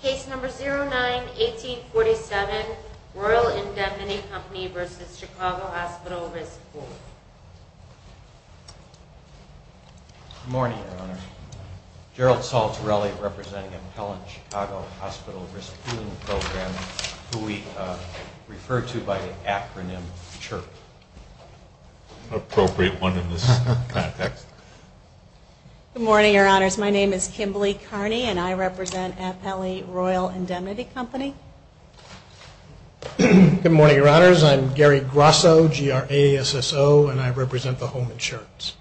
Case number 09-1847, Royal Indemnity Company v. Chicago Hospital Risk Pooling. Good morning, Your Honor. Gerald Saltarelli, representing Appellant Chicago Hospital Risk Pooling Program, who we refer to by the acronym CHIRP. Appropriate one in this context. Good morning, Your Honors. My name is Kimberly Carney, and I represent Appellee Royal Indemnity Company. Good morning, Your Honors. I'm Gary Grasso, GRASSO, and I represent the Home Insurance.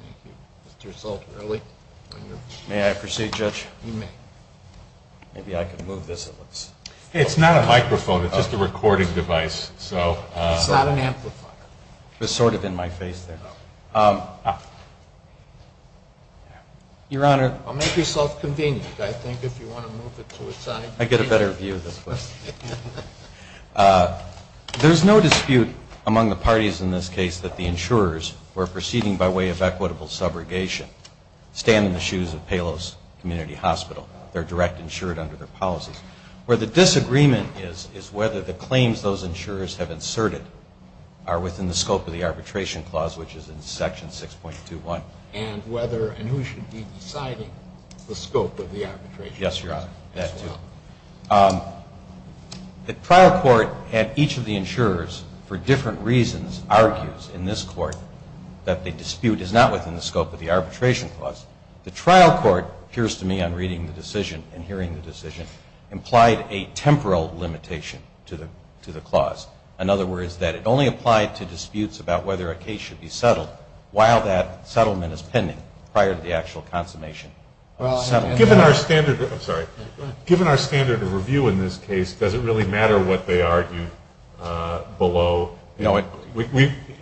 Thank you. Mr. Saltarelli. May I proceed, Judge? You may. Maybe I can move this. It's not a microphone. It's just a recording device. It's not an amplifier. It was sort of in my face there. Your Honor. Make yourself convenient, I think, if you want to move it to a side. I get a better view of this question. There's no dispute among the parties in this case that the insurers who are proceeding by way of equitable subrogation stand in the shoes of Palos Community Hospital. They're direct insured under their policies. Where the disagreement is, is whether the claims those insurers have inserted are within the scope of the arbitration clause, which is in Section 6.21. And whether and who should be deciding the scope of the arbitration. Yes, Your Honor. That, too. The trial court at each of the insurers for different reasons argues in this court that the dispute is not within the scope of the arbitration clause. The trial court, it appears to me on reading the decision and hearing the decision, implied a temporal limitation to the clause. In other words, that it only applied to disputes about whether a case should be settled while that settlement is pending prior to the actual consummation of the settlement. Given our standard of review in this case, does it really matter what they argue below? No, it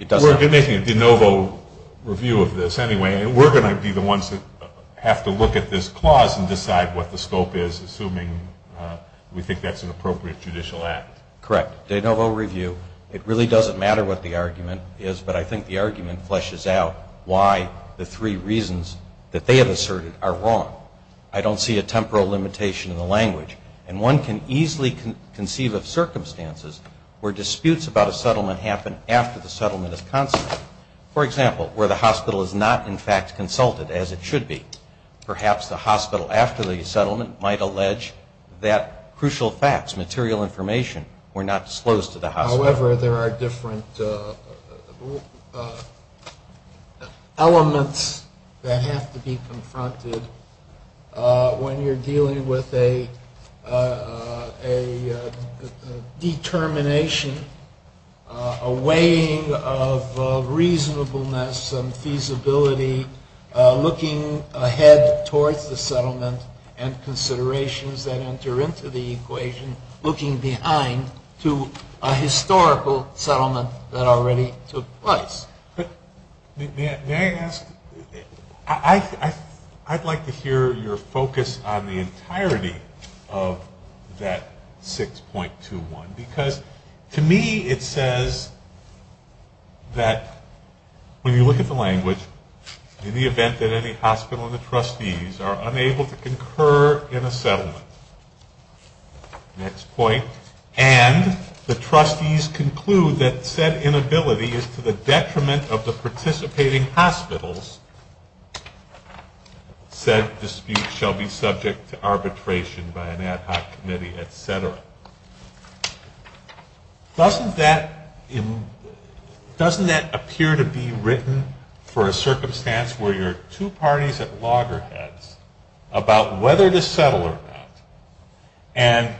doesn't. We're making a de novo review of this anyway, and we're going to be the ones that have to look at this clause and decide what the scope is, assuming we think that's an appropriate judicial act. Correct. De novo review. It really doesn't matter what the argument is, but I think the argument fleshes out why the three reasons that they have asserted are wrong. I don't see a temporal limitation in the language. And one can easily conceive of circumstances where disputes about a settlement happen after the settlement is consummated. For example, where the hospital is not, in fact, consulted, as it should be. Perhaps the hospital, after the settlement, might allege that crucial facts, material information, were not disclosed to the hospital. However, there are different elements that have to be confronted when you're dealing with a determination, a weighing of reasonableness and feasibility, looking ahead towards the settlement, and considerations that enter into the equation, looking behind to a historical settlement that already took place. May I ask, I'd like to hear your focus on the entirety of that 6.21, because to me it says that when you look at the settlement. Next point. And the trustees conclude that said inability is to the detriment of the participating hospitals. Said dispute shall be subject to arbitration by an ad hoc committee, et cetera. Doesn't that appear to be written for a circumstance where you're two parties at loggerheads about whether to settle or not? And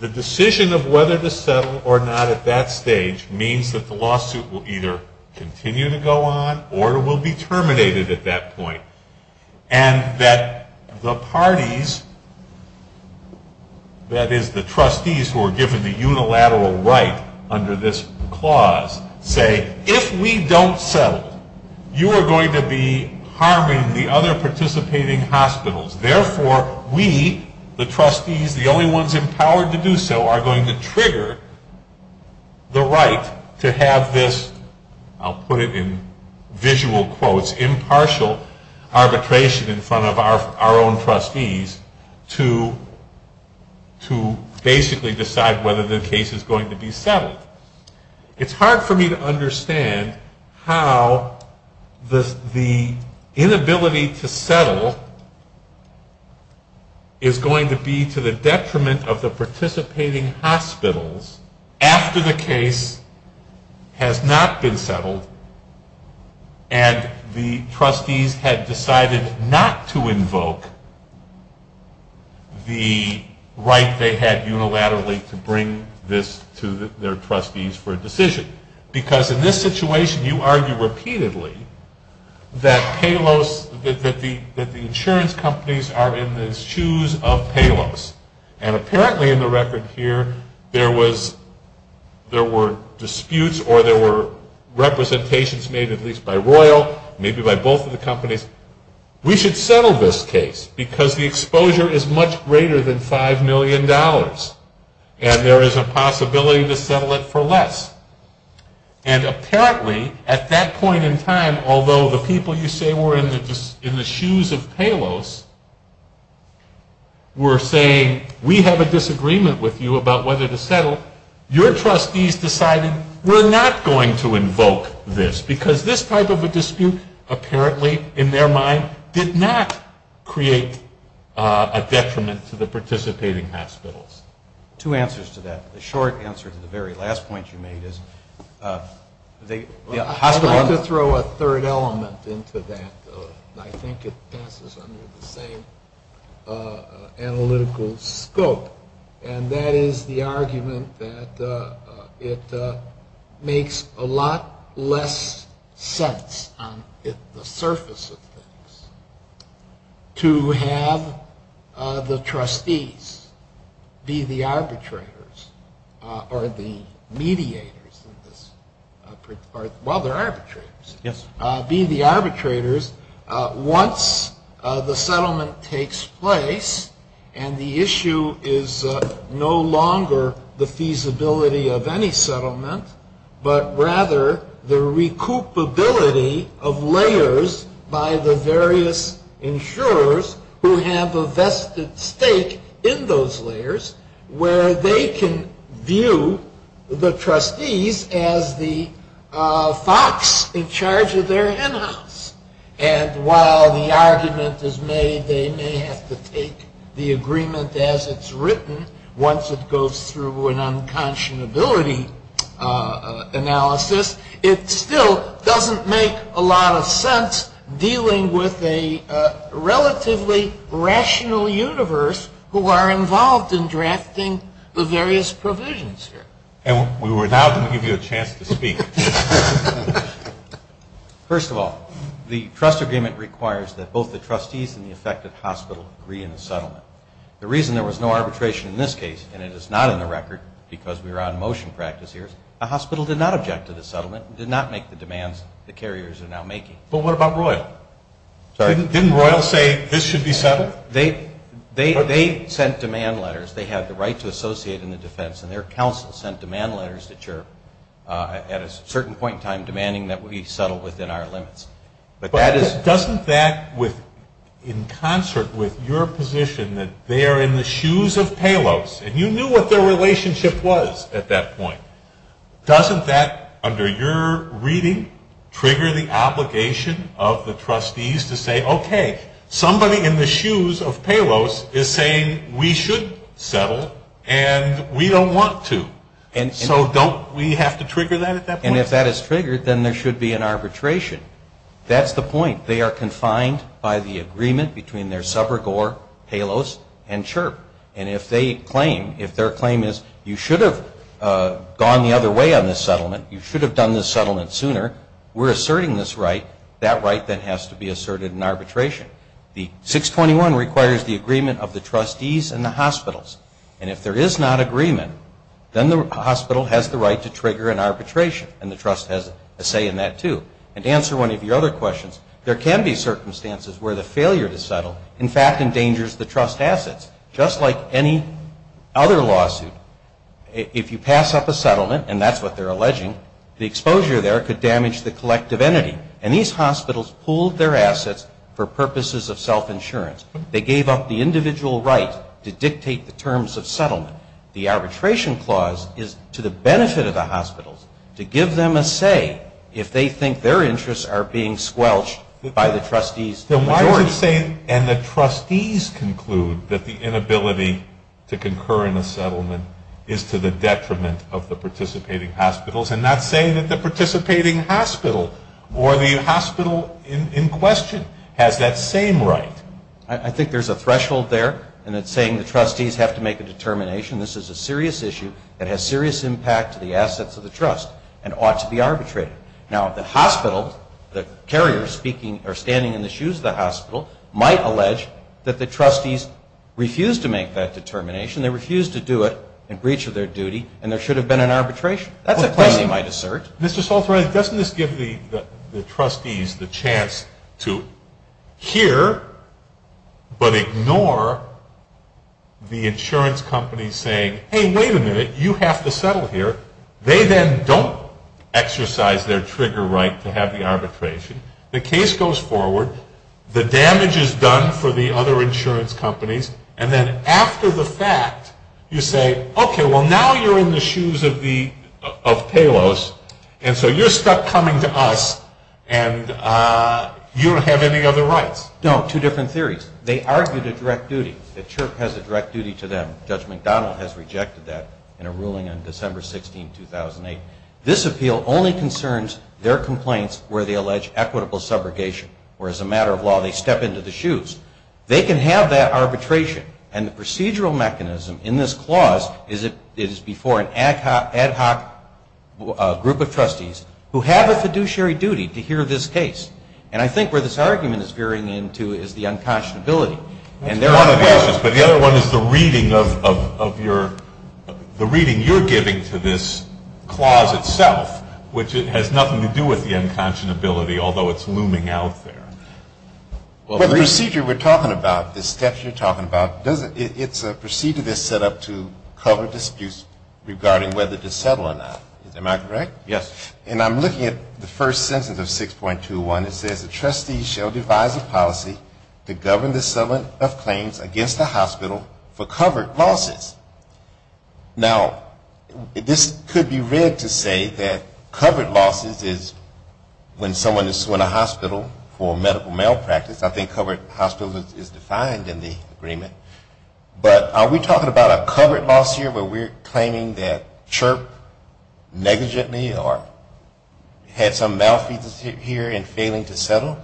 the decision of whether to settle or not at that stage means that the lawsuit will either continue to go on, or it will be terminated at that point. And that the parties, that is the trustees who are given the unilateral right under this clause, say, if we don't settle, you are going to be harming the other participating hospitals. Therefore, we, the trustees, the only ones empowered to do so, are going to trigger the right to have this, I'll put it in visual quotes, impartial arbitration in front of our own trustees, to basically decide whether the case is going to be settled. It's hard for me to understand how the inability to settle is going to be to the detriment of the participating hospitals after the case has not been settled and the trustees have decided not to invoke the right they had unilaterally to bring this to their trustees for a decision. Because in this situation, you argue repeatedly that the insurance companies are in the shoes of Palos. And apparently in the record here, there were disputes or there were representations made at least by Royal, maybe by both of the companies, we should settle this case because the exposure is much greater than $5 million. And there is a possibility to settle it for less. And apparently, at that point in time, although the people you say were in the shoes of Palos were saying, we have a disagreement with you about whether to settle, your trustees decided we're not going to invoke this because this type of a dispute, apparently in their mind, did not create a detriment to the participating hospitals. Two answers to that. The short answer to the very last point you made is the hospital... Let me throw a third element into that. I think it passes under the same analytical scope. And that is the argument that it makes a lot less sense on the surface of things to have the trustees be the arbitrators or the mediators, well, the arbitrators, be the arbitrators once the settlement takes place and the issue is no longer the feasibility of any settlement, but rather the recoupability of layers by the various insurers who have a vested stake in those layers where they can view the trustees as the fox in charge of their henhouse. And while the argument is made they may have to take the agreement as it's written once it goes through an unconscionability analysis, it still doesn't make a lot of sense dealing with a relatively rational universe who are involved in drafting the various provisions here. And we will now give you a chance to speak. First of all, the trust agreement requires that both the trustees and the affected hospital agree in the settlement. The reason there was no arbitration in this case, and it is not in the record because we are on motion practice here, the hospital did not object to the settlement and did not make the demands the carriers are now making. But what about Royal? Sorry? Didn't Royal say this should be settled? They sent demand letters. They have the right to associate in the defense, and their counsel sent demand letters at a certain point in time demanding that we settle within our limits. But doesn't that, in concert with your position that they are in the shoes of Palos, and you knew what their relationship was at that point, doesn't that, under your reading, trigger the obligation of the trustees to say, okay, somebody in the shoes of Palos is saying we should settle and we don't want to. And so don't we have to trigger that at that point? And if that is triggered, then there should be an arbitration. That's the point. They are confined by the agreement between their subrogore, Palos, and Chirp. And if their claim is you should have gone the other way on this settlement, you should have done this settlement sooner, we're asserting this right, that right then has to be asserted in arbitration. The 621 requires the agreement of the trustees and the hospitals. And if there is not agreement, then the hospital has the right to trigger an arbitration, and the trust has a say in that too. And to answer one of your other questions, there can be circumstances where the failure to settle, in fact, endangers the trust assets. Just like any other lawsuit, if you pass up a settlement, and that's what they're alleging, the exposure there could damage the collective entity. And these hospitals pooled their assets for purposes of self-insurance. They gave up the individual right to dictate the terms of settlement. The arbitration clause is to the benefit of the hospitals to give them a say if they think their interests are being squelched by the trustees' majority. Then why would you say, and the trustees conclude, that the inability to concur in a settlement is to the detriment of the participating hospitals, and not saying that the participating hospital or the hospital in question has that same right? I think there's a threshold there, and it's saying the trustees have to make a determination. This is a serious issue that has serious impact to the assets of the trust and ought to be arbitrated. Now, the hospital, the carrier standing in the shoes of the hospital, might allege that the trustees refused to make that determination. They refused to do it in breach of their duty, and there should have been an arbitration. That's a place they might assert. Mr. Salter, doesn't this give the trustees the chance to hear but ignore the insurance companies saying, hey, wait a minute, you have to settle here. They then don't exercise their trigger right to have the arbitration. The case goes forward. The damage is done for the other insurance companies. And then after the fact, you say, okay, well, now you're in the shoes of Palos, and so you're stuck coming to us, and you don't have any other rights. No, two different theories. They argued a direct duty. The CHRP has a direct duty to them. Judge McDonald has rejected that in a ruling on December 16, 2008. This appeal only concerns their complaints where they allege equitable subrogation, or as a matter of law, they step into the shoes. They can have that arbitration. And the procedural mechanism in this clause is it is before an ad hoc group of trustees who have a fiduciary duty to hear this case. And I think where this argument is veering into is the unconscionability. But the other one is the reading you're giving to this clause itself, which has nothing to do with the unconscionability, although it's looming out there. Well, the procedure we're talking about, the steps you're talking about, it's a procedure that's set up to cover disputes regarding whether to settle or not. Am I correct? Yes. And I'm looking at the first sentence of 6.21. It says, The trustees shall devise a policy to govern the settlement of claims against the hospital for covered losses. Now, this could be read to say that covered losses is when someone is sworn to hospital for medical malpractice. I think covered hospital is defined in the agreement. But are we talking about a covered loss here where we're claiming that CHRP negligently or had some malfeasance here in failing to settle?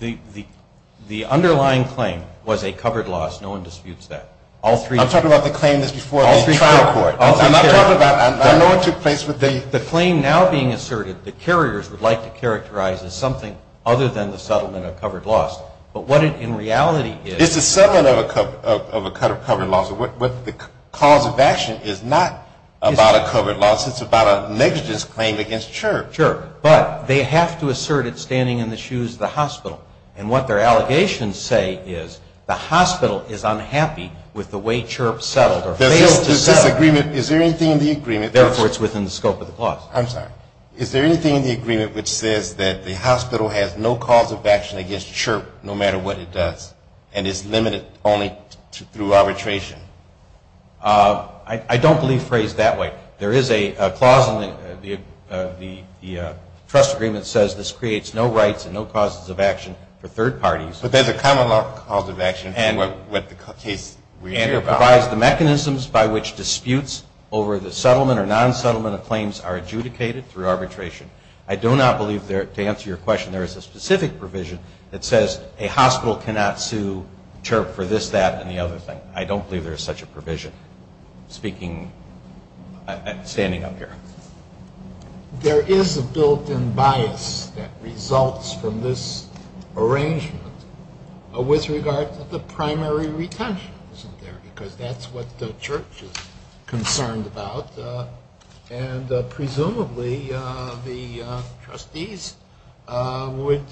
The underlying claim was a covered loss. No one disputes that. I'm talking about the claim that's before the trial court. I know it took place with the The claim now being asserted, the carriers would like to characterize as something other than the settlement of covered loss. But what it in reality is It's a settlement of a covered loss. The cause of action is not about a covered loss. It's about a negligence claim against CHRP. CHRP. But they have to assert it standing in the shoes of the hospital. And what their allegations say is the hospital is unhappy with the way CHRP settled or failed to settle. Does this agreement Is there anything in the agreement Therefore it's within the scope of the clause. I'm sorry. Is there anything in the agreement which says that the hospital has no cause of action against CHRP no matter what it does and is limited only through arbitration? I don't believe phrased that way. There is a clause in the trust agreement that says this creates no rights and no causes of action for third parties. But there's a common law cause of action. And it provides the mechanisms by which disputes over the settlement or non-settlement of claims are adjudicated through arbitration. I do not believe to answer your question there is a specific provision that says a hospital cannot sue CHRP for this, that, and the other thing. I don't believe there is such a provision. Speaking, standing up here. There is a built-in bias that results from this arrangement with regard to the primary retention. Because that's what the church is concerned about. And presumably the trustees would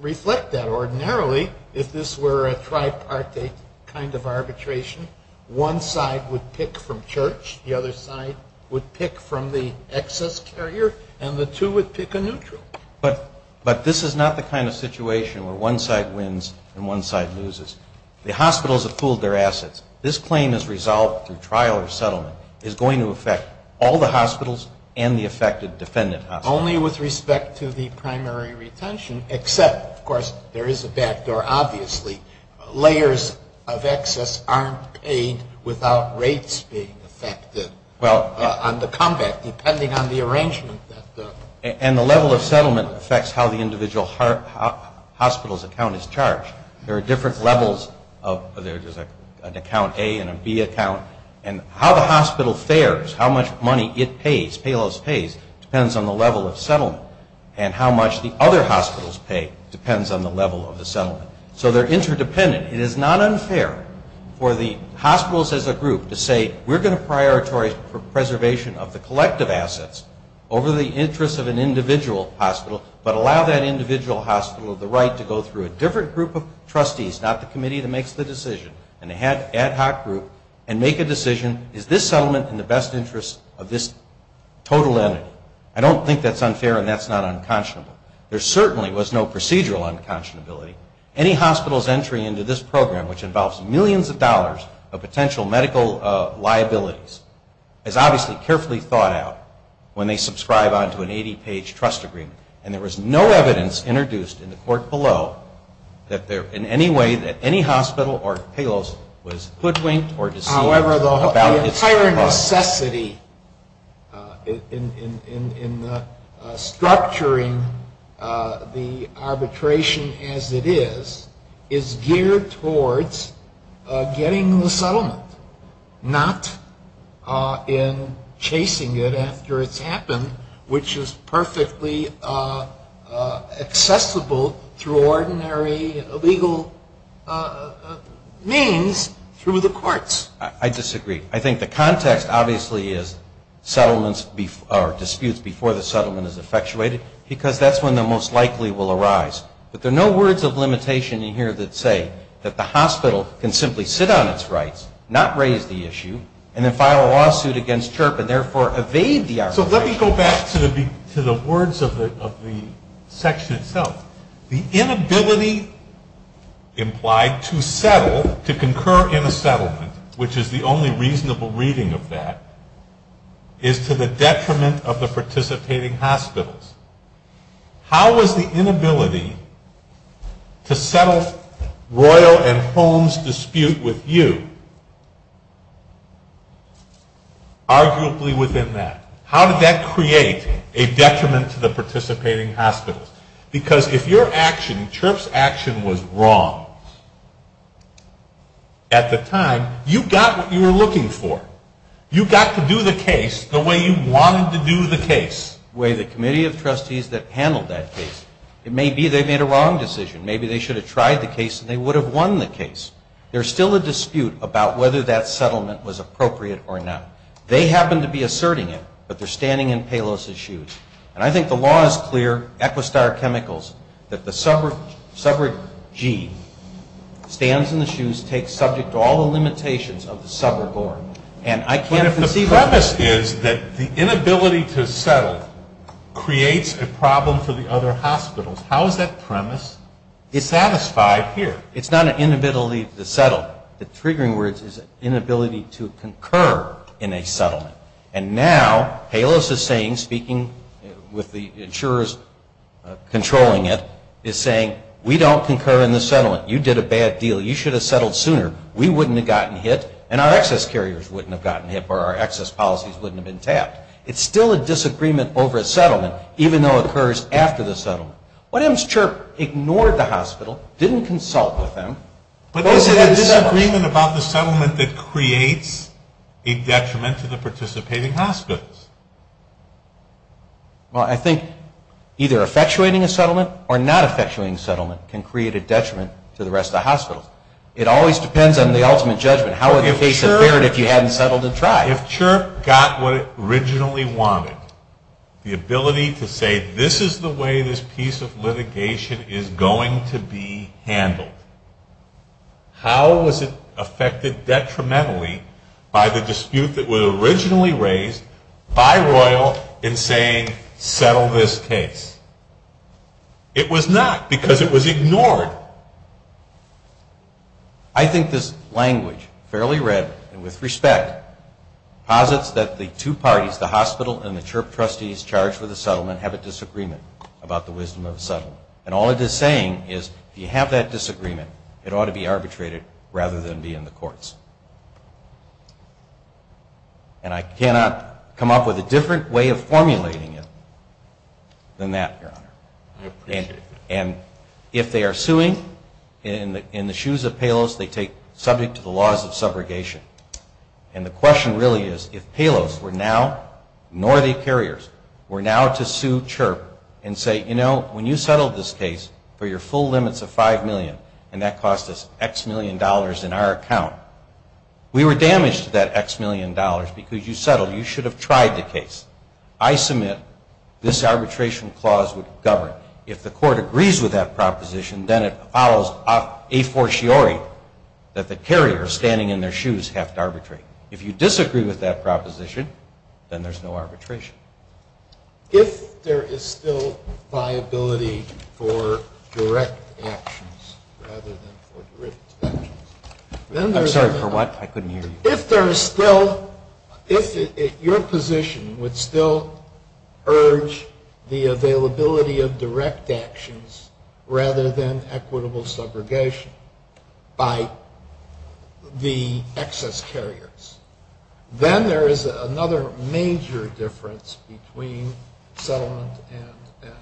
reflect that ordinarily if this were a tripartite kind of arbitration. One side would pick from church. The other side would pick from the excess carrier. And the two would pick a neutral. But this is not the kind of situation where one side wins and one side loses. The hospitals have fooled their assets. This claim is resolved through trial or settlement. It's going to affect all the hospitals and the affected defendant hospitals. Only with respect to the primary retention, except, of course, there is a backdoor, obviously. Layers of excess aren't paid without rates being affected on the comeback, depending on the arrangement. And the level of settlement affects how the individual hospital's account is charged. There are different levels. There's an account A and a B account. And how the hospital fares, how much money it pays, Payless pays, depends on the level of settlement. And how much the other hospitals pay depends on the level of the settlement. So they're interdependent. It is not unfair for the hospitals as a group to say, we're going to prioritize preservation of the collective assets over the interests of an individual hospital, but allow that individual hospital the right to go through a different group of trustees, not the committee that makes the decision, an ad hoc group, and make a decision, is this settlement in the best interest of this total entity? I don't think that's unfair and that's not unconscionable. There certainly was no procedural unconscionability. Any hospital's entry into this program, which involves millions of dollars of potential medical liabilities, is obviously carefully thought out when they subscribe on to an 80-page trust agreement. And there was no evidence introduced in the court below that in any way that any hospital or Payless was hoodwinked or deceived. However, the entire necessity in structuring the arbitration as it is, is geared towards getting the settlement, not in chasing it after it's happened, which is perfectly accessible through ordinary legal means through the courts. I disagree. I think the context obviously is disputes before the settlement is effectuated, because that's when the most likely will arise. But there are no words of limitation in here that say that the hospital can simply sit on its rights, not raise the issue, and then file a lawsuit against CHRP and therefore evade the arbitration. So let me go back to the words of the section itself. The inability implied to settle, to concur in a settlement, which is the only reasonable reading of that, is to the detriment of the participating hospitals. How was the inability to settle Royal and Holmes' dispute with you arguably within that? How did that create a detriment to the participating hospitals? Because if your action, CHRP's action, was wrong at the time, you got what you were looking for. You got to do the case the way you wanted to do the case. The committee of trustees that handled that case, it may be they made a wrong decision. Maybe they should have tried the case and they would have won the case. There's still a dispute about whether that settlement was appropriate or not. They happen to be asserting it, but they're standing in Palos's shoes. And I think the law is clear, Equistar Chemicals, that the suburb G stands in the shoes, takes subject to all the limitations of the suburb order. But if the premise is that the inability to settle creates a problem for the other hospitals, how is that premise satisfied here? It's not an inability to settle. The triggering words is inability to concur in a settlement. And now Palos is saying, speaking with the insurers controlling it, is saying, we don't concur in the settlement. You did a bad deal. You should have settled sooner. We wouldn't have gotten hit, and our excess carriers wouldn't have gotten hit, or our excess policies wouldn't have been tapped. It's still a disagreement over a settlement, even though it occurs after the settlement. What if Ms. Chirp ignored the hospital, didn't consult with them? But there's a disagreement about the settlement that creates a detriment to the participating hospitals. Well, I think either effectuating a settlement or not effectuating a settlement can create a detriment to the rest of the hospitals. It always depends on the ultimate judgment. How would the case have fared if you hadn't settled and tried? If Chirp got what it originally wanted, the ability to say, this is the way this piece of litigation is going to be handled, how was it affected detrimentally by the dispute that was originally raised by Royal in saying, settle this case? It was not, because it was ignored. I think this language, fairly read and with respect, posits that the two parties, the hospital and the Chirp trustees charged with the settlement, have a disagreement about the wisdom of the settlement. And all it is saying is, if you have that disagreement, it ought to be arbitrated rather than be in the courts. And I cannot come up with a different way of formulating it than that, Your Honor. And if they are suing, in the shoes of Palos, they take subject to the laws of subrogation. And the question really is, if Palos were now, nor the carriers, were now to sue Chirp and say, you know, when you settled this case for your full limits of $5 million, and that cost us X million dollars in our account, we were damaged to that X million dollars because you settled. You should have tried the case. I submit this arbitration clause would govern. If the court agrees with that proposition, then it follows a fortiori that the carriers standing in their shoes have to arbitrate. If you disagree with that proposition, then there's no arbitration. If there is still viability for direct actions rather than for derivative actions, then there's another. I'm sorry, for what? I couldn't hear you. If there is still, if your position would still urge the availability of direct actions rather than equitable subrogation by the excess carriers, then there is another major difference between settlement and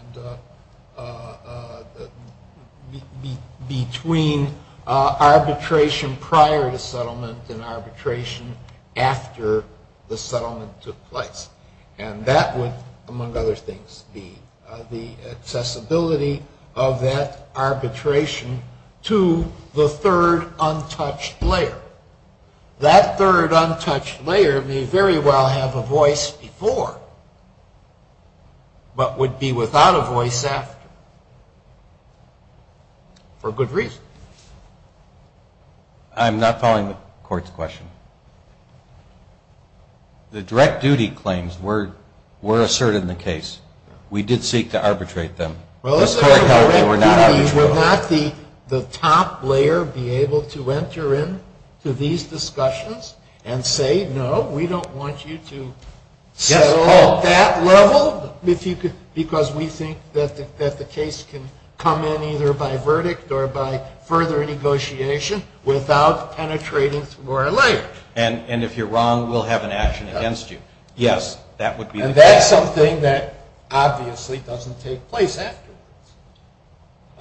between arbitration prior to settlement and arbitration after the settlement took place. And that would, among other things, be the accessibility of that arbitration to the third untouched layer. That third untouched layer may very well have a voice before but would be without a voice after for good reason. I'm not following the court's question. The direct duty claims were asserted in the case. We did seek to arbitrate them. The direct duty would not the top layer be able to enter into these discussions and say, no, we don't want you to settle at that level because we think that the case can come in either by verdict or by further negotiation without penetrating through our layer. And if you're wrong, we'll have an action against you. Yes, that would be the case. And that's something that obviously doesn't take place afterwards.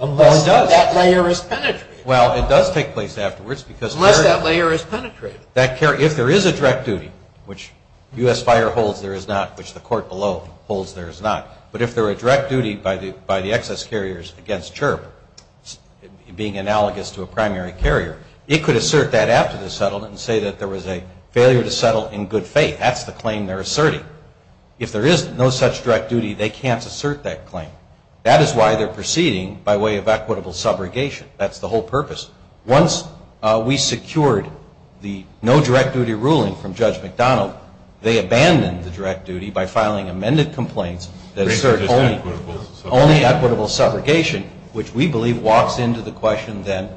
Unless that layer is penetrated. Well, it does take place afterwards. Unless that layer is penetrated. If there is a direct duty, which U.S. Fire holds there is not, which the court below holds there is not, but if there were a direct duty by the excess carriers against CHIRP, being analogous to a primary carrier, it could assert that after the settlement and say that there was a failure to settle in good faith. That's the claim they're asserting. If there is no such direct duty, they can't assert that claim. That is why they're proceeding by way of equitable subrogation. That's the whole purpose. Once we secured the no direct duty ruling from Judge McDonald, they abandoned the direct duty by filing amended complaints that assert only equitable subrogation, which we believe walks into the question then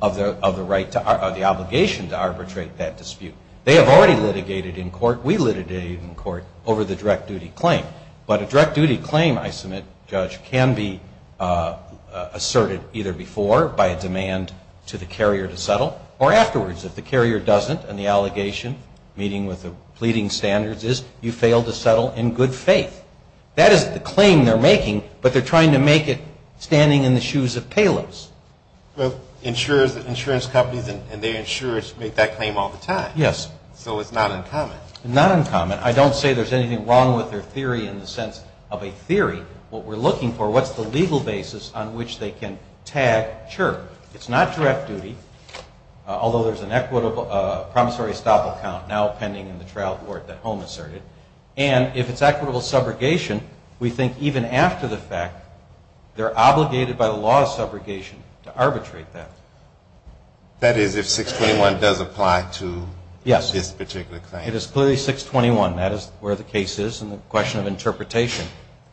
of the obligation to arbitrate that dispute. They have already litigated in court. We litigated in court over the direct duty claim. But a direct duty claim, I submit, Judge, can be asserted either before by a demand to the carrier to settle or afterwards if the carrier doesn't and the allegation meeting with the pleading standards is you failed to settle in good faith. That is the claim they're making, but they're trying to make it standing in the shoes of payloads. Insurance companies and their insurers make that claim all the time. Yes. So it's not uncommon. Not uncommon. I don't say there's anything wrong with their theory in the sense of a theory. What we're looking for, what's the legal basis on which they can tag? Sure. It's not direct duty, although there's a promissory estoppel count now pending in the trial court that Holm asserted. And if it's equitable subrogation, we think even after the fact, they're obligated by the law of subrogation to arbitrate that. That is if 621 does apply to this particular claim. Yes. It is clearly 621. That is where the case is in the question of interpretation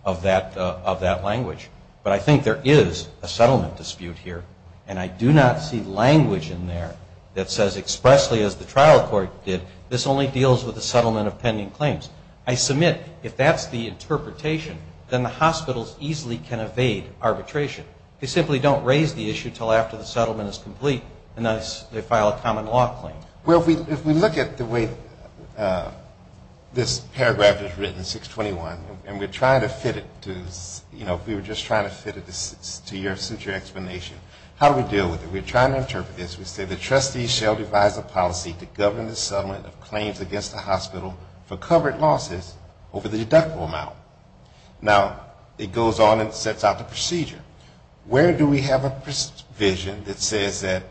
of that language. But I think there is a settlement dispute here, and I do not see language in there that says expressly, as the trial court did, this only deals with a settlement of pending claims. I submit if that's the interpretation, then the hospitals easily can evade arbitration. They simply don't raise the issue until after the settlement is complete and they file a common law claim. Well, if we look at the way this paragraph is written, 621, and we're trying to fit it to, you know, if we were just trying to fit it to your explanation, how do we deal with it? We're trying to interpret this. We say the trustees shall devise a policy to govern the settlement of claims against the hospital for covered losses over the deductible amount. Now, it goes on and sets out the procedure. Where do we have a provision that says that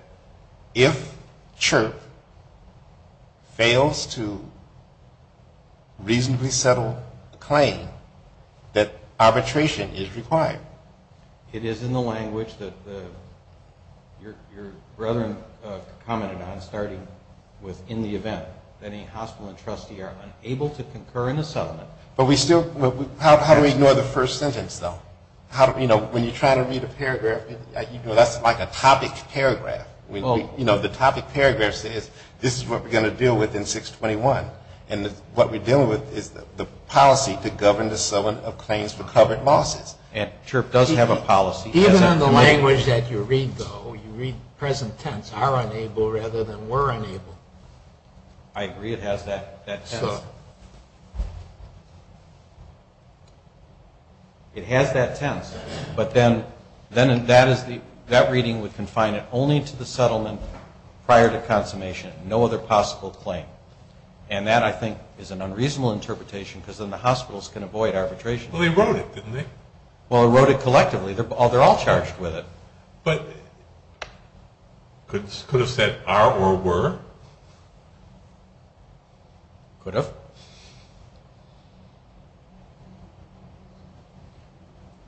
if CHRP fails to reasonably settle the claim, that arbitration is required? It is in the language that your brethren commented on, starting with in the event that any hospital and trustee are unable to concur in the settlement. But we still, how do we ignore the first sentence, though? You know, when you're trying to read a paragraph, that's like a topic paragraph. You know, the topic paragraph says this is what we're going to deal with in 621, and what we're dealing with is the policy to govern the settlement of claims for covered losses. And CHRP does have a policy. Even in the language that you read, though, you read present tense, are unable rather than were unable. I agree. It has that tense. So? It has that tense. But then that reading would confine it only to the settlement prior to consummation, no other possible claim. And that, I think, is an unreasonable interpretation because then the hospitals can avoid arbitration. Well, they wrote it, didn't they? Well, they wrote it collectively. They're all charged with it. But could it have said are or were? Could have.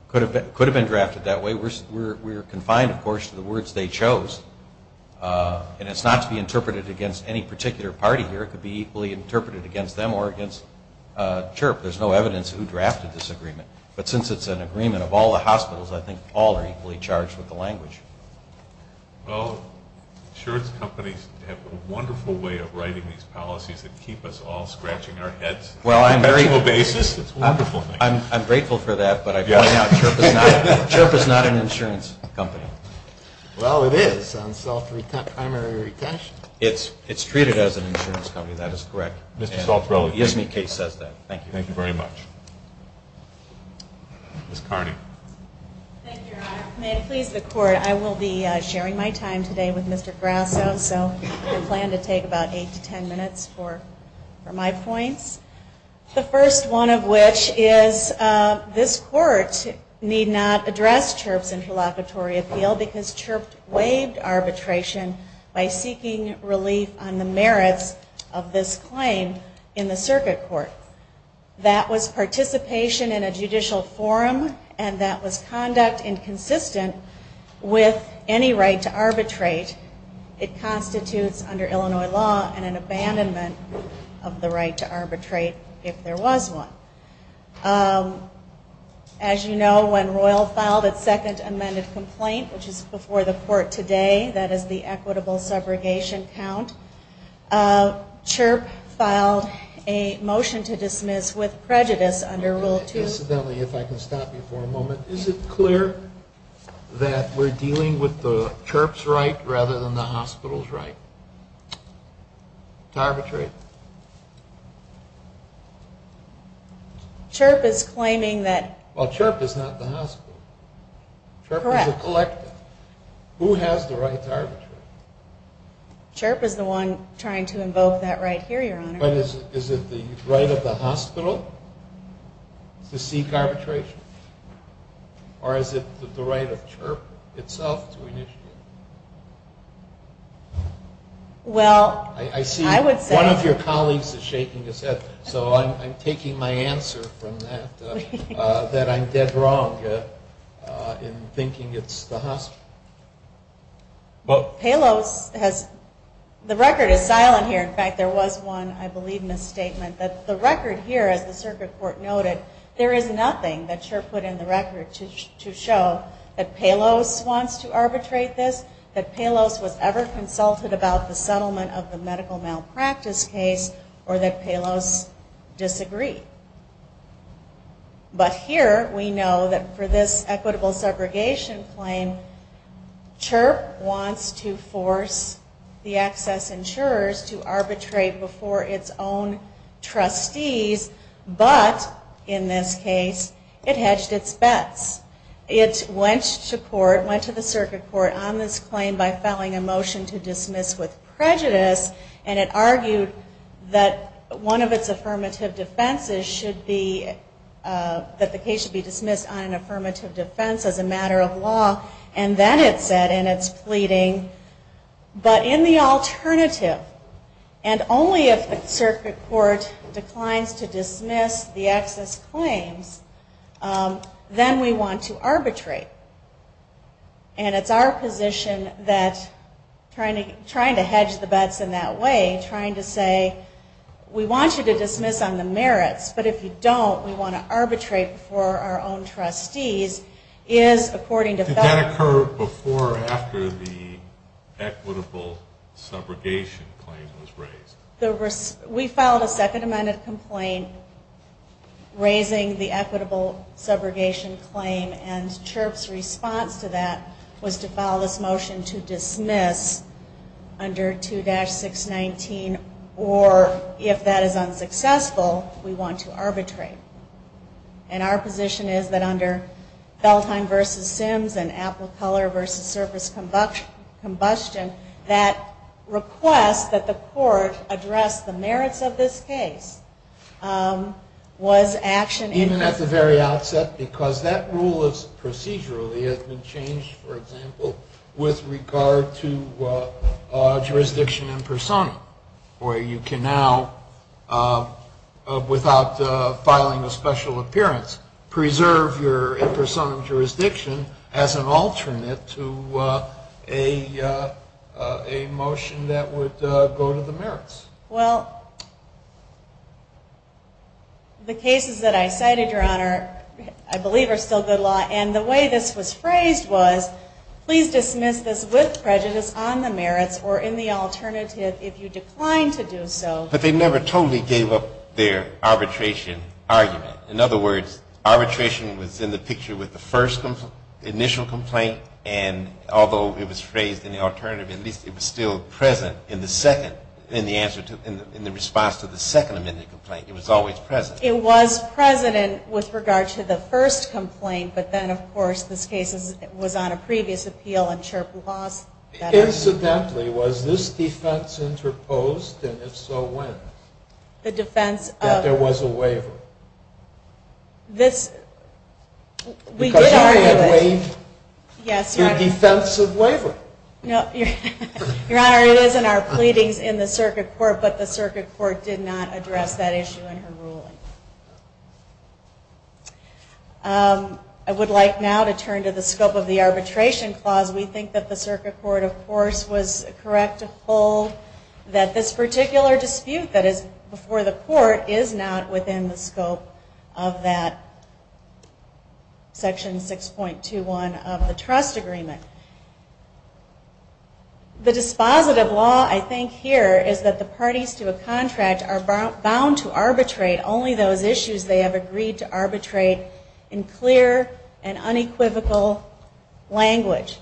Could have been drafted that way. We're confined, of course, to the words they chose. And it's not to be interpreted against any particular party here. It could be equally interpreted against them or against CHRP. There's no evidence who drafted this agreement. But since it's an agreement of all the hospitals, I think all are equally charged with the language. Well, insurance companies have a wonderful way of writing these policies that keep us all scratching our heads on a conventional basis. It's a wonderful thing. I'm grateful for that, but I find out CHRP is not an insurance company. Well, it is on self-primary retention. It's treated as an insurance company. That is correct. Mr. Saltzbrode. Yes, ma'am. The case says that. Thank you. Thank you very much. Ms. Carney. Thank you, Your Honor. May it please the Court, I will be sharing my time today with Mr. Grasso. So I plan to take about eight to ten minutes for my points. The first one of which is this Court need not address CHRP's interlocutory appeal because CHRP waived arbitration by seeking relief on the merits of this claim in the circuit court. That was participation in a judicial forum and that was conduct inconsistent with any right to arbitrate. It constitutes under Illinois law an abandonment of the right to arbitrate if there was one. As you know, when Royal filed its second amended complaint, which is before the Court today, that is the equitable subrogation count, CHRP filed a motion to dismiss with prejudice under Rule 2. If I can stop you for a moment. Is it clear that we're dealing with the CHRP's right rather than the hospital's right to arbitrate? CHRP is claiming that. Well, CHRP is not the hospital. Correct. CHRP is a collective. Who has the right to arbitrate? CHRP is the one trying to invoke that right here, Your Honor. But is it the right of the hospital to seek arbitration? Or is it the right of CHRP itself to initiate? Well, I would say... I see one of your colleagues is shaking his head, so I'm taking my answer from that, that I'm dead wrong in thinking it's the hospital. Palos has... The record is silent here. In fact, there was one, I believe, misstatement. The record here, as the Circuit Court noted, there is nothing that CHRP put in the record to show that Palos wants to arbitrate this, that Palos was ever consulted about the settlement of the medical malpractice case, or that Palos disagreed. But here we know that for this equitable segregation claim, CHRP wants to force the access insurers to arbitrate before its own trustees, but, in this case, it hedged its bets. It went to court, went to the Circuit Court on this claim by filing a motion to dismiss with prejudice, and it argued that one of its affirmative defenses should be... that the case should be dismissed on an affirmative defense as a matter of law, and then it said in its pleading, but in the alternative, and only if the Circuit Court declines to dismiss the access claims, then we want to arbitrate. And it's our position that trying to hedge the bets in that way, trying to say, we want you to dismiss on the merits, but if you don't, we want to arbitrate before our own trustees, is according to... Did that occur before or after the equitable subrogation claim was raised? We filed a second amendment complaint raising the equitable subrogation claim, and CHRP's response to that was to file this motion to dismiss under 2-619, or, if that is unsuccessful, we want to arbitrate. And our position is that under Belheim v. Sims and Apple Color v. Surface Combustion, that request that the court address the merits of this case was action... Even at the very outset? Because that rule procedurally has been changed, for example, with regard to jurisdiction impersonum, where you can now, without filing a special appearance, preserve your impersonum jurisdiction as an alternate to a motion that would go to the merits. Well, the cases that I cited, Your Honor, I believe are still good law, and the way this was phrased was, please dismiss this with prejudice on the merits or in the alternative if you decline to do so. But they never totally gave up their arbitration argument. In other words, arbitration was in the picture with the first initial complaint, and although it was phrased in the alternative, at least it was still present in the response to the second amendment complaint. It was always present. It was present with regard to the first complaint, but then, of course, this case was on a previous appeal and CHRP lost that argument. Incidentally, was this defense interposed, and if so, when? That there was a waiver. Because you had waived the defense of waiver. No, Your Honor, it is in our pleadings in the circuit court, but the circuit court did not address that issue in her ruling. I would like now to turn to the scope of the arbitration clause. We think that the circuit court, of course, was correct to hold that this particular dispute, that is before the court, is not within the scope of that Section 6.21 of the trust agreement. The dispositive law, I think, here is that the parties to a contract are bound to arbitrate only those issues they have agreed to arbitrate in clear and unequivocal language.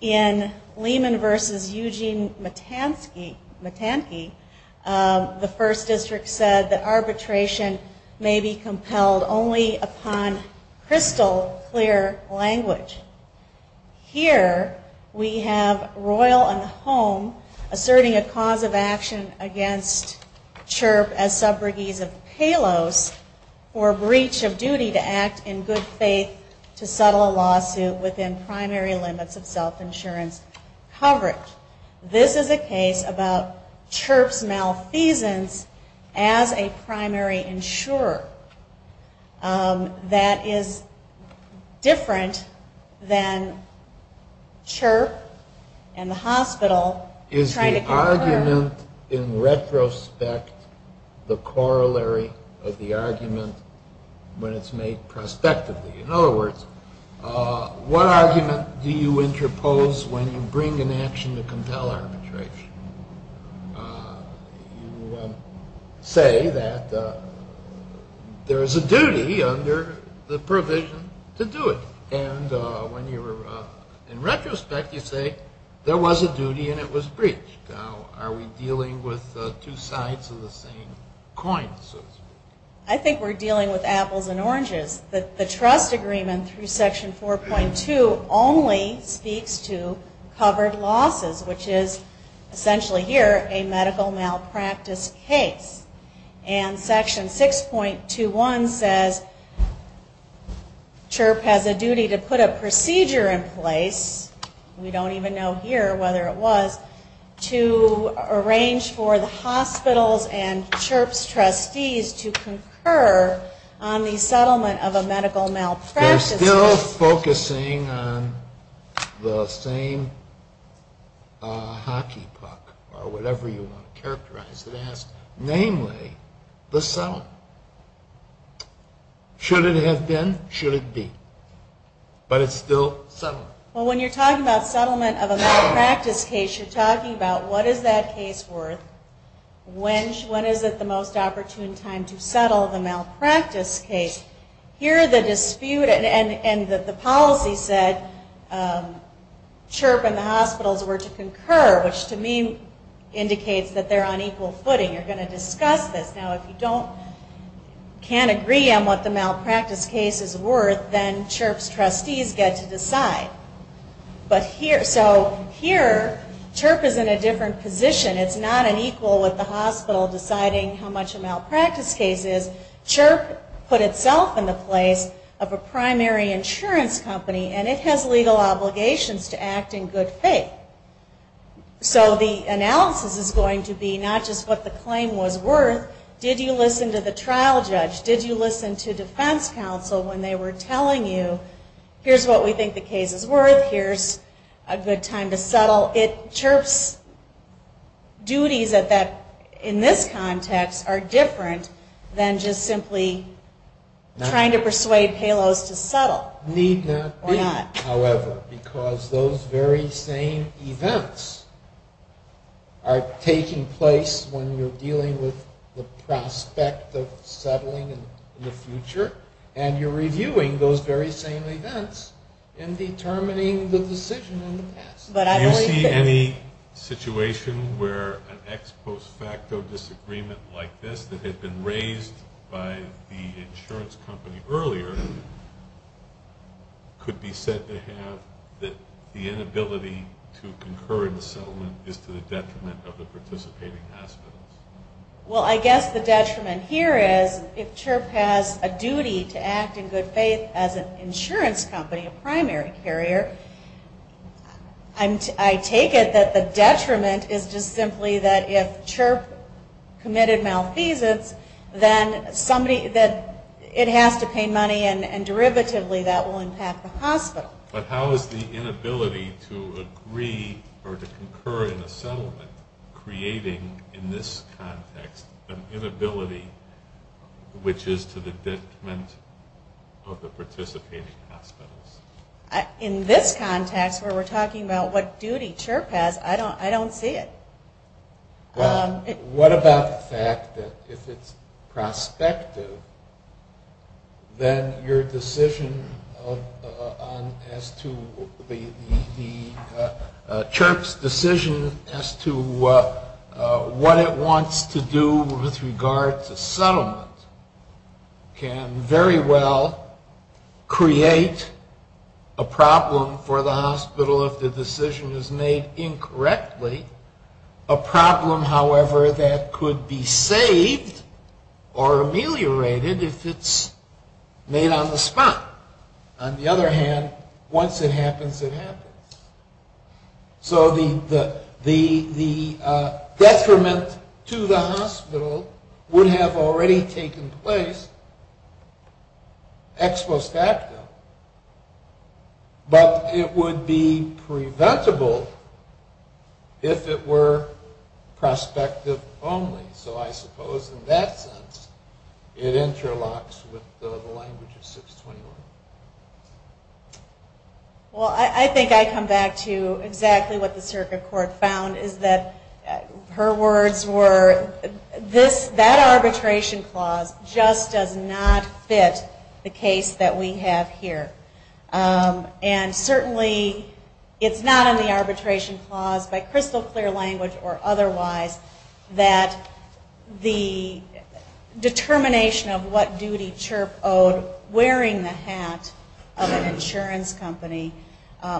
In Lehman v. Eugene Matansky, the First District said that arbitration may be compelled only upon crystal clear language. Here, we have Royal and Home asserting a cause of action against CHRP as subbriggees of Palos for breach of duty to act in good faith to settle a lawsuit within primary limits of self-insurance coverage. This is a case about CHRP's malfeasance as a primary insurer. That is different than CHRP and the hospital trying to get her. Is the argument in retrospect the corollary of the argument when it's made prospectively? In other words, what argument do you interpose when you bring an action to compel arbitration? You say that there is a duty under the provision to do it. In retrospect, you say there was a duty and it was breached. Are we dealing with two sides of the same coin? I think we're dealing with apples and oranges. The trust agreement through Section 4.2 only speaks to covered losses, which is essentially here a medical malpractice case. And Section 6.21 says CHRP has a duty to put a procedure in place, we don't even know here whether it was, to arrange for the hospitals and CHRP's trustees to concur on the settlement of a medical malpractice case. We're still focusing on the same hockey puck, or whatever you want to characterize it as. Namely, the settlement. Should it have been? Should it be? But it's still settlement. Well, when you're talking about settlement of a malpractice case, you're talking about what is that case worth, when is it the most opportune time to settle the malpractice case. Here the dispute, and the policy said CHRP and the hospitals were to concur, which to me indicates that they're on equal footing. You're going to discuss this. Now if you can't agree on what the malpractice case is worth, then CHRP's trustees get to decide. So here, CHRP is in a different position. It's not an equal with the hospital deciding how much a malpractice case is. CHRP put itself in the place of a primary insurance company, and it has legal obligations to act in good faith. So the analysis is going to be not just what the claim was worth, did you listen to the trial judge? Did you listen to defense counsel when they were telling you, here's what we think the case is worth, here's a good time to settle. So CHRP's duties in this context are different than just simply trying to persuade Palos to settle. Need not be, however, because those very same events are taking place when you're dealing with the prospect of settling in the future, and you're reviewing those very same events and determining the decision in the past. Do you see any situation where an ex post facto disagreement like this that had been raised by the insurance company earlier could be said to have the inability to concur in the settlement is to the detriment of the participating hospitals? Well, I guess the detriment here is if CHRP has a duty to act in good faith as an insurance company, a primary carrier, I take it that the detriment is just simply that if CHRP committed malfeasance, then it has to pay money and derivatively that will impact the hospital. But how is the inability to agree or to concur in the settlement creating in this context an inability which is to the detriment of the participating hospitals? In this context where we're talking about what duty CHRP has, I don't see it. What about the fact that if it's prospective, then your decision as to the CHRP's decision as to what it wants to do with regard to settlement can very well create a problem for the hospital if the decision is made incorrectly, a problem, however, that could be saved or ameliorated if it's made on the spot. On the other hand, once it happens, it happens. So the detriment to the hospital would have already taken place ex post acto, but it would be preventable if it were prospective only. So I suppose in that sense it interlocks with the language of 621. Well, I think I come back to exactly what the circuit court found is that her words were, that arbitration clause just does not fit the case that we have here. And certainly it's not in the arbitration clause by crystal clear language or otherwise that the determination of what duty CHRP owed wearing the hat of an insurance company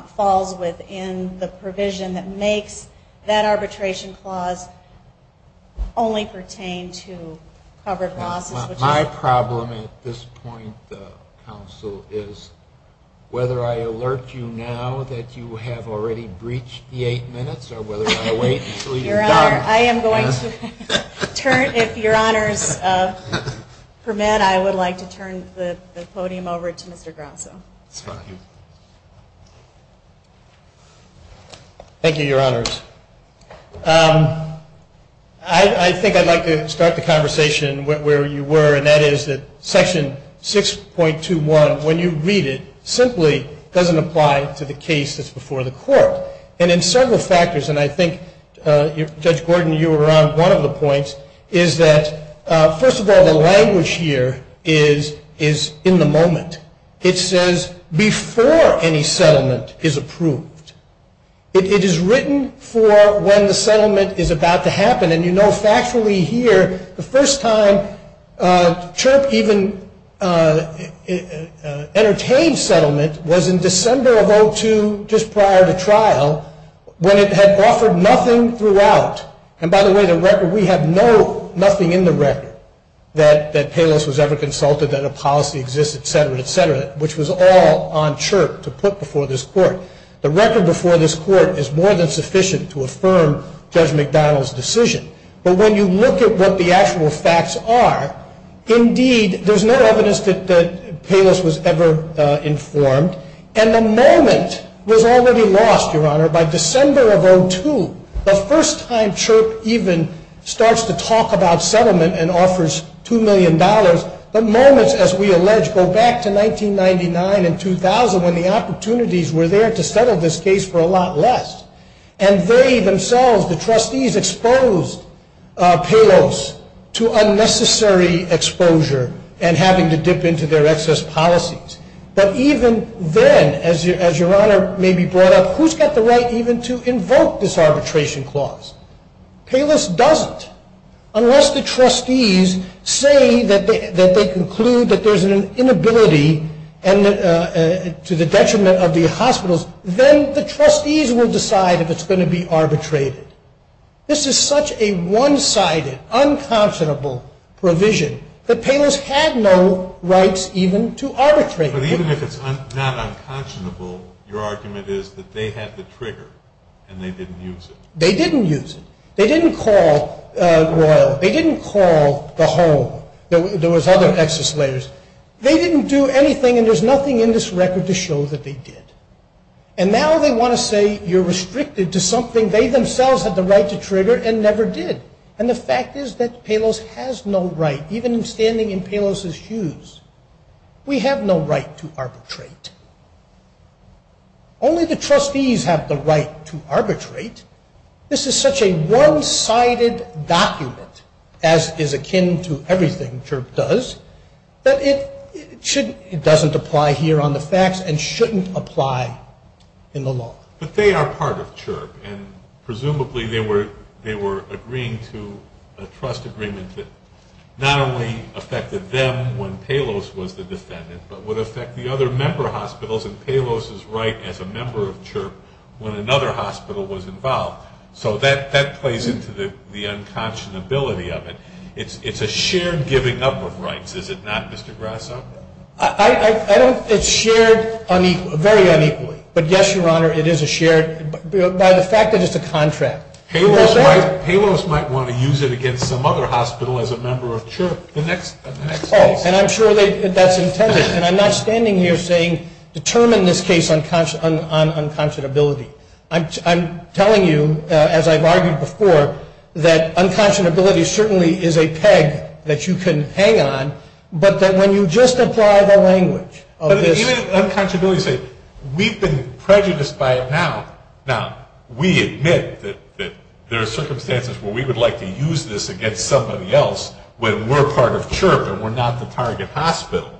falls within the provision that makes that arbitration clause only pertain to covered losses. My problem at this point, counsel, is whether I alert you now that you have already breached the eight minutes or whether I wait until you've done it. I am going to turn, if your honors permit, I would like to turn the podium over to Mr. Grosso. Thank you, your honors. I think I'd like to start the conversation where you were, and that is that section 6.21, when you read it, simply doesn't apply to the case that's before the court. And in several factors, and I think, Judge Gordon, you were on one of the points, is that, first of all, the language here is in the moment. It says before any settlement is approved. It is written for when the settlement is about to happen, and you know factually here the first time CHRP even entertained settlement was in December of 2002, just prior to trial, when it had offered nothing throughout. And, by the way, the record, we have no, nothing in the record, that Palos was ever consulted, that a policy exists, et cetera, et cetera, which was all on CHRP to put before this court. The record before this court is more than sufficient to affirm Judge McDonald's decision. But when you look at what the actual facts are, indeed, there's no evidence that Palos was ever informed, and the moment was already lost, Your Honor, by December of 2002, the first time CHRP even starts to talk about settlement and offers $2 million, the moments, as we allege, go back to 1999 and 2000 when the opportunities were there to settle this case for a lot less. And they themselves, the trustees, exposed Palos to unnecessary exposure and having to dip into their excess policies. But even then, as Your Honor maybe brought up, who's got the right even to invoke this arbitration clause? Palos doesn't. Unless the trustees say that they conclude that there's an inability to the detriment of the hospitals, then the trustees will decide if it's going to be arbitrated. This is such a one-sided, unconscionable provision that Palos had no rights even to arbitrate. But even if it's not unconscionable, your argument is that they had the trigger and they didn't use it. They didn't use it. They didn't call Royal. They didn't call the home. There was other excess layers. They didn't do anything, and there's nothing in this record to show that they did. And now they want to say you're restricted to something they themselves had the right to trigger and never did. And the fact is that Palos has no right, even in standing in Palos's shoes, we have no right to arbitrate. Only the trustees have the right to arbitrate. This is such a one-sided document, as is akin to everything Chirp does, that it doesn't apply here on the facts and shouldn't apply in the law. But they are part of Chirp, and presumably they were agreeing to a trust agreement that not only affected them when Palos was the defendant, but would affect the other member hospitals and Palos's right as a member of Chirp when another hospital was involved. So that plays into the unconscionability of it. It's a shared giving up of rights, is it not, Mr. Grasso? It's shared very unequally. But yes, Your Honor, it is a shared, by the fact that it's a contract. Palos might want to use it against some other hospital as a member of Chirp. And I'm sure that's intended. And I'm not standing here saying determine this case on unconscionability. I'm telling you, as I've argued before, that unconscionability certainly is a peg that you can hang on, but that when you just apply the language of this... But even unconscionability, say, we've been prejudiced by it now. Now, we admit that there are circumstances where we would like to use this against somebody else when we're part of Chirp and we're not the target hospital.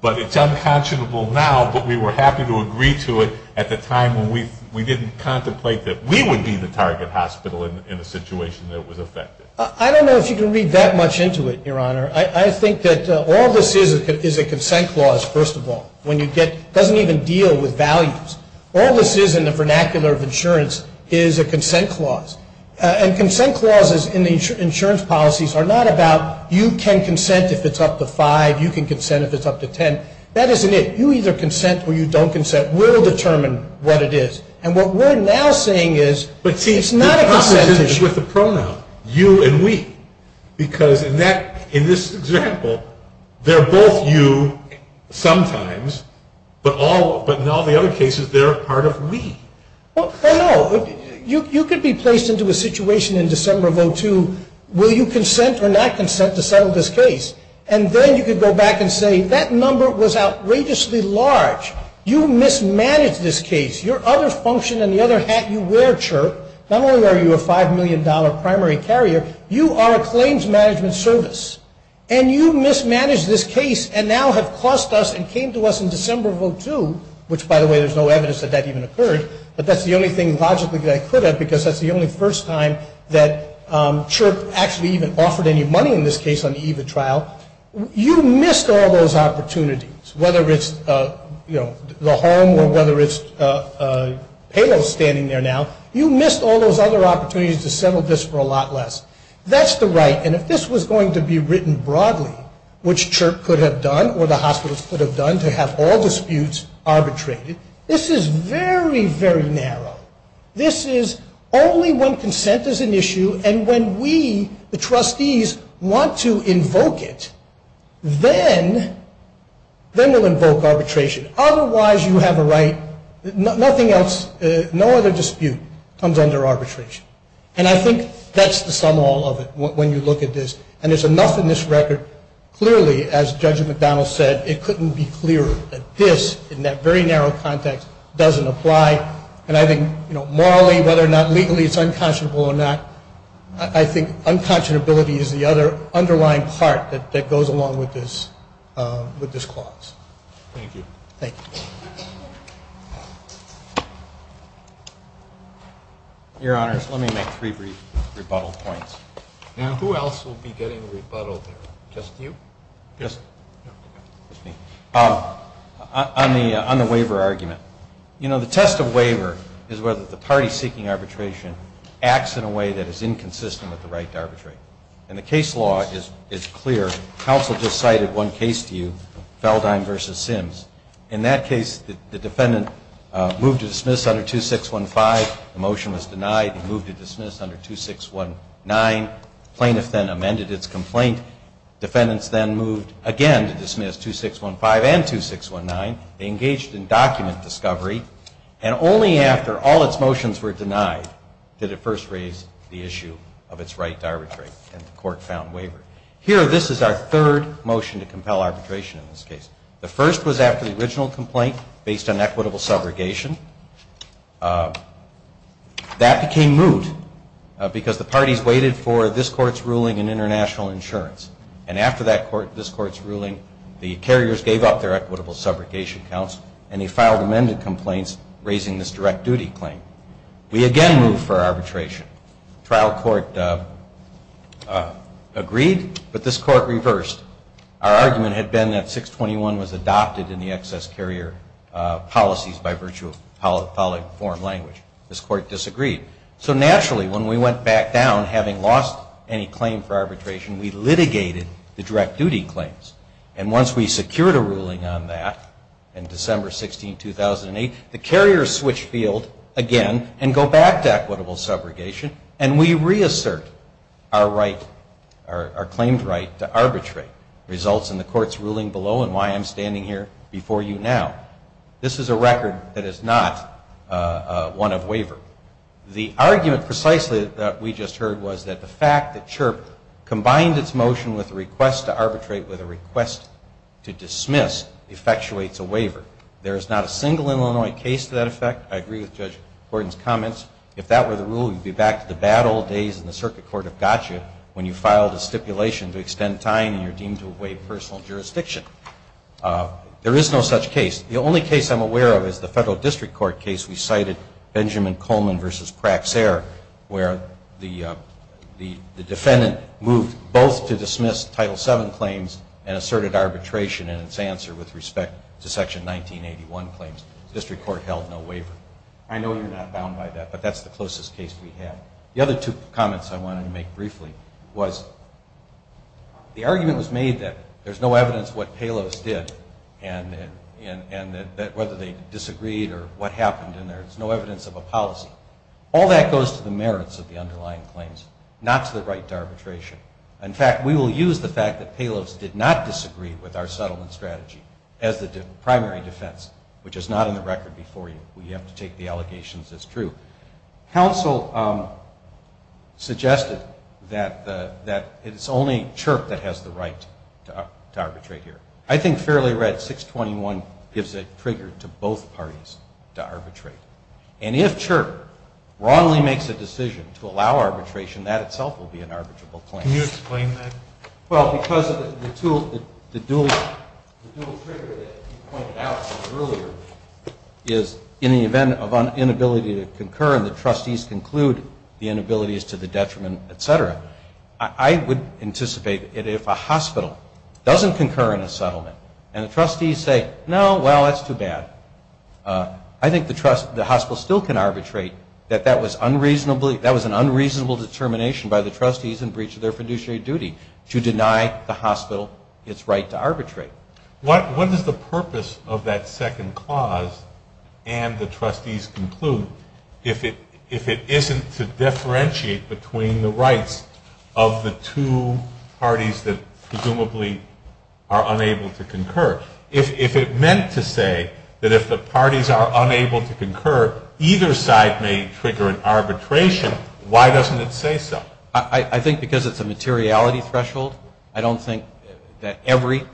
But it's unconscionable now, but we were happy to agree to it at the time when we didn't contemplate that we would be the target hospital in a situation that was affected. I don't know if you can read that much into it, Your Honor. I think that all this is is a consent clause, first of all. It doesn't even deal with values. All this is in the vernacular of insurance is a consent clause. And consent clauses in the insurance policies are not about you can consent if it's up to 5, you can consent if it's up to 10. That isn't it. You either consent or you don't consent. We'll determine what it is. And what we're now saying is it's not a consent issue. But see, the problem is with the pronoun, you and we. Because in this example, they're both you sometimes, but in all the other cases, they're part of me. Well, no. You could be placed into a situation in December of 02, will you consent or not consent to settle this case? And then you could go back and say, that number was outrageously large. You mismanaged this case. Your other function and the other hat you wear, Chirp, not only are you a $5 million primary carrier, you are a claims management service. And you mismanaged this case and now have cost us and came to us in December of 02, which, by the way, there's no evidence that that even occurred. But that's the only thing logically that I could have because that's the only first time that Chirp actually even offered any money in this case on the eve of trial. You missed all those opportunities, whether it's the home or whether it's payroll standing there now. You missed all those other opportunities to settle this for a lot less. That's the right. And if this was going to be written broadly, which Chirp could have done or the hospitals could have done to have all disputes arbitrated, this is very, very narrow. This is only when consent is an issue and when we, the trustees, want to invoke it. Then we'll invoke arbitration. Otherwise, you have a right. Nothing else, no other dispute comes under arbitration. And I think that's the sum all of it when you look at this. And there's enough in this record. Clearly, as Judge McDonnell said, it couldn't be clearer that this in that very narrow context doesn't apply. And I think morally, whether or not legally it's unconscionable or not, I think unconscionability is the underlying part that goes along with this clause. Thank you. Thank you. Your Honors, let me make three brief rebuttal points. And who else will be getting rebuttal there? Just you? Just me. On the waiver argument. You know, the test of waiver is whether the party seeking arbitration acts in a way that is inconsistent with the right to arbitrate. And the case law is clear. Counsel just cited one case to you, Feldein v. Sims. In that case, the defendant moved to dismiss under 2615. The motion was denied. He moved to dismiss under 2619. Plaintiff then amended its complaint. Defendants then moved again to dismiss 2615 and 2619. They engaged in document discovery. And only after all its motions were denied did it first raise the issue of its right to arbitrate. And the court found waiver. Here, this is our third motion to compel arbitration in this case. The first was after the original complaint based on equitable subrogation. That became moot because the parties waited for this court's ruling in international insurance. And after this court's ruling, the carriers gave up their equitable subrogation counts and they filed amended complaints raising this direct duty claim. We again moved for arbitration. Trial court agreed, but this court reversed. Our argument had been that 621 was adopted in the excess carrier policies by virtue of poly form language. This court disagreed. So naturally, when we went back down, having lost any claim for arbitration, we litigated the direct duty claims. And once we secured a ruling on that in December 16, 2008, the carriers switched field again and go back to equitable subrogation. And we reassert our right, our claimed right to arbitrate results in the court's ruling below and why I'm standing here before you now. This is a record that is not one of waiver. The argument precisely that we just heard was that the fact that CHRP combined its motion with a request to arbitrate with a request to dismiss effectuates a waiver. There is not a single Illinois case to that effect. I agree with Judge Gordon's comments. If that were the rule, you'd be back to the bad old days in the circuit court of gotcha when you filed a stipulation to extend time and you're deemed to have waived personal jurisdiction. There is no such case. The only case I'm aware of is the federal district court case we cited, Benjamin Coleman v. Praxair, where the defendant moved both to dismiss Title VII claims and asserted arbitration in its answer with respect to Section 1981 claims. The district court held no waiver. I know you're not bound by that, but that's the closest case we had. The other two comments I wanted to make briefly was the argument was made that there's no evidence and that whether they disagreed or what happened in there, there's no evidence of a policy. All that goes to the merits of the underlying claims, not to the right to arbitration. In fact, we will use the fact that payloads did not disagree with our settlement strategy as the primary defense, which is not in the record before you. We have to take the allegations as true. Council suggested that it's only CHRP that has the right to arbitrate here. I think fairly right, 621 gives a trigger to both parties to arbitrate. And if CHRP wrongly makes a decision to allow arbitration, that itself will be an arbitrable claim. Can you explain that? Well, because the dual trigger that you pointed out earlier is in the event of an inability to concur and the trustees conclude the inability is to the detriment, et cetera, I would anticipate that if a hospital doesn't concur in a settlement and the trustees say, no, well, that's too bad, I think the hospital still can arbitrate that that was an unreasonable determination by the trustees in breach of their fiduciary duty to deny the hospital its right to arbitrate. What is the purpose of that second clause and the trustees conclude if it isn't to differentiate between the rights of the two parties that presumably are unable to concur? If it meant to say that if the parties are unable to concur, either side may trigger an arbitration, why doesn't it say so? I think because it's a materiality threshold. I don't think that every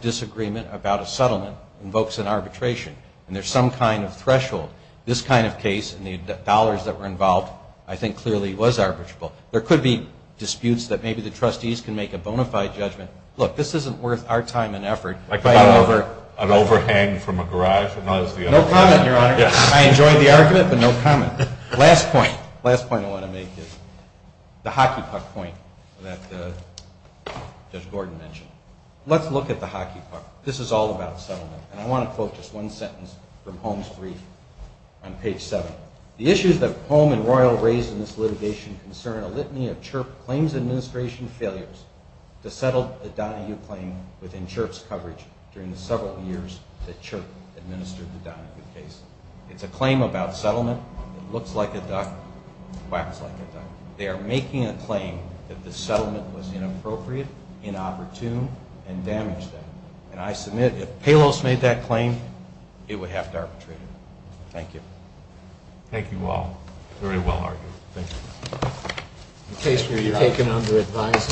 disagreement about a settlement invokes an arbitration. And there's some kind of threshold. This kind of case and the dollars that were involved I think clearly was arbitrable. There could be disputes that maybe the trustees can make a bona fide judgment. Look, this isn't worth our time and effort. Like an overhang from a garage? No comment, Your Honor. I enjoyed the argument, but no comment. Last point I want to make is the hockey puck point that Judge Gordon mentioned. Let's look at the hockey puck. This is all about settlement, and I want to quote just one sentence from Holmes' brief on page 7. The issues that Holmes and Royal raise in this litigation concern a litany of CHRP claims administration failures to settle a Donahue claim within CHRP's coverage during the several years that CHRP administered the Donahue case. It's a claim about settlement. It looks like a duck, quacks like a duck. They are making a claim that the settlement was inappropriate, inopportune, and damaged that. And I submit if Palos made that claim, it would have to arbitrate it. Thank you. Thank you all. Very well argued. Thank you. In case you're taken under advisement.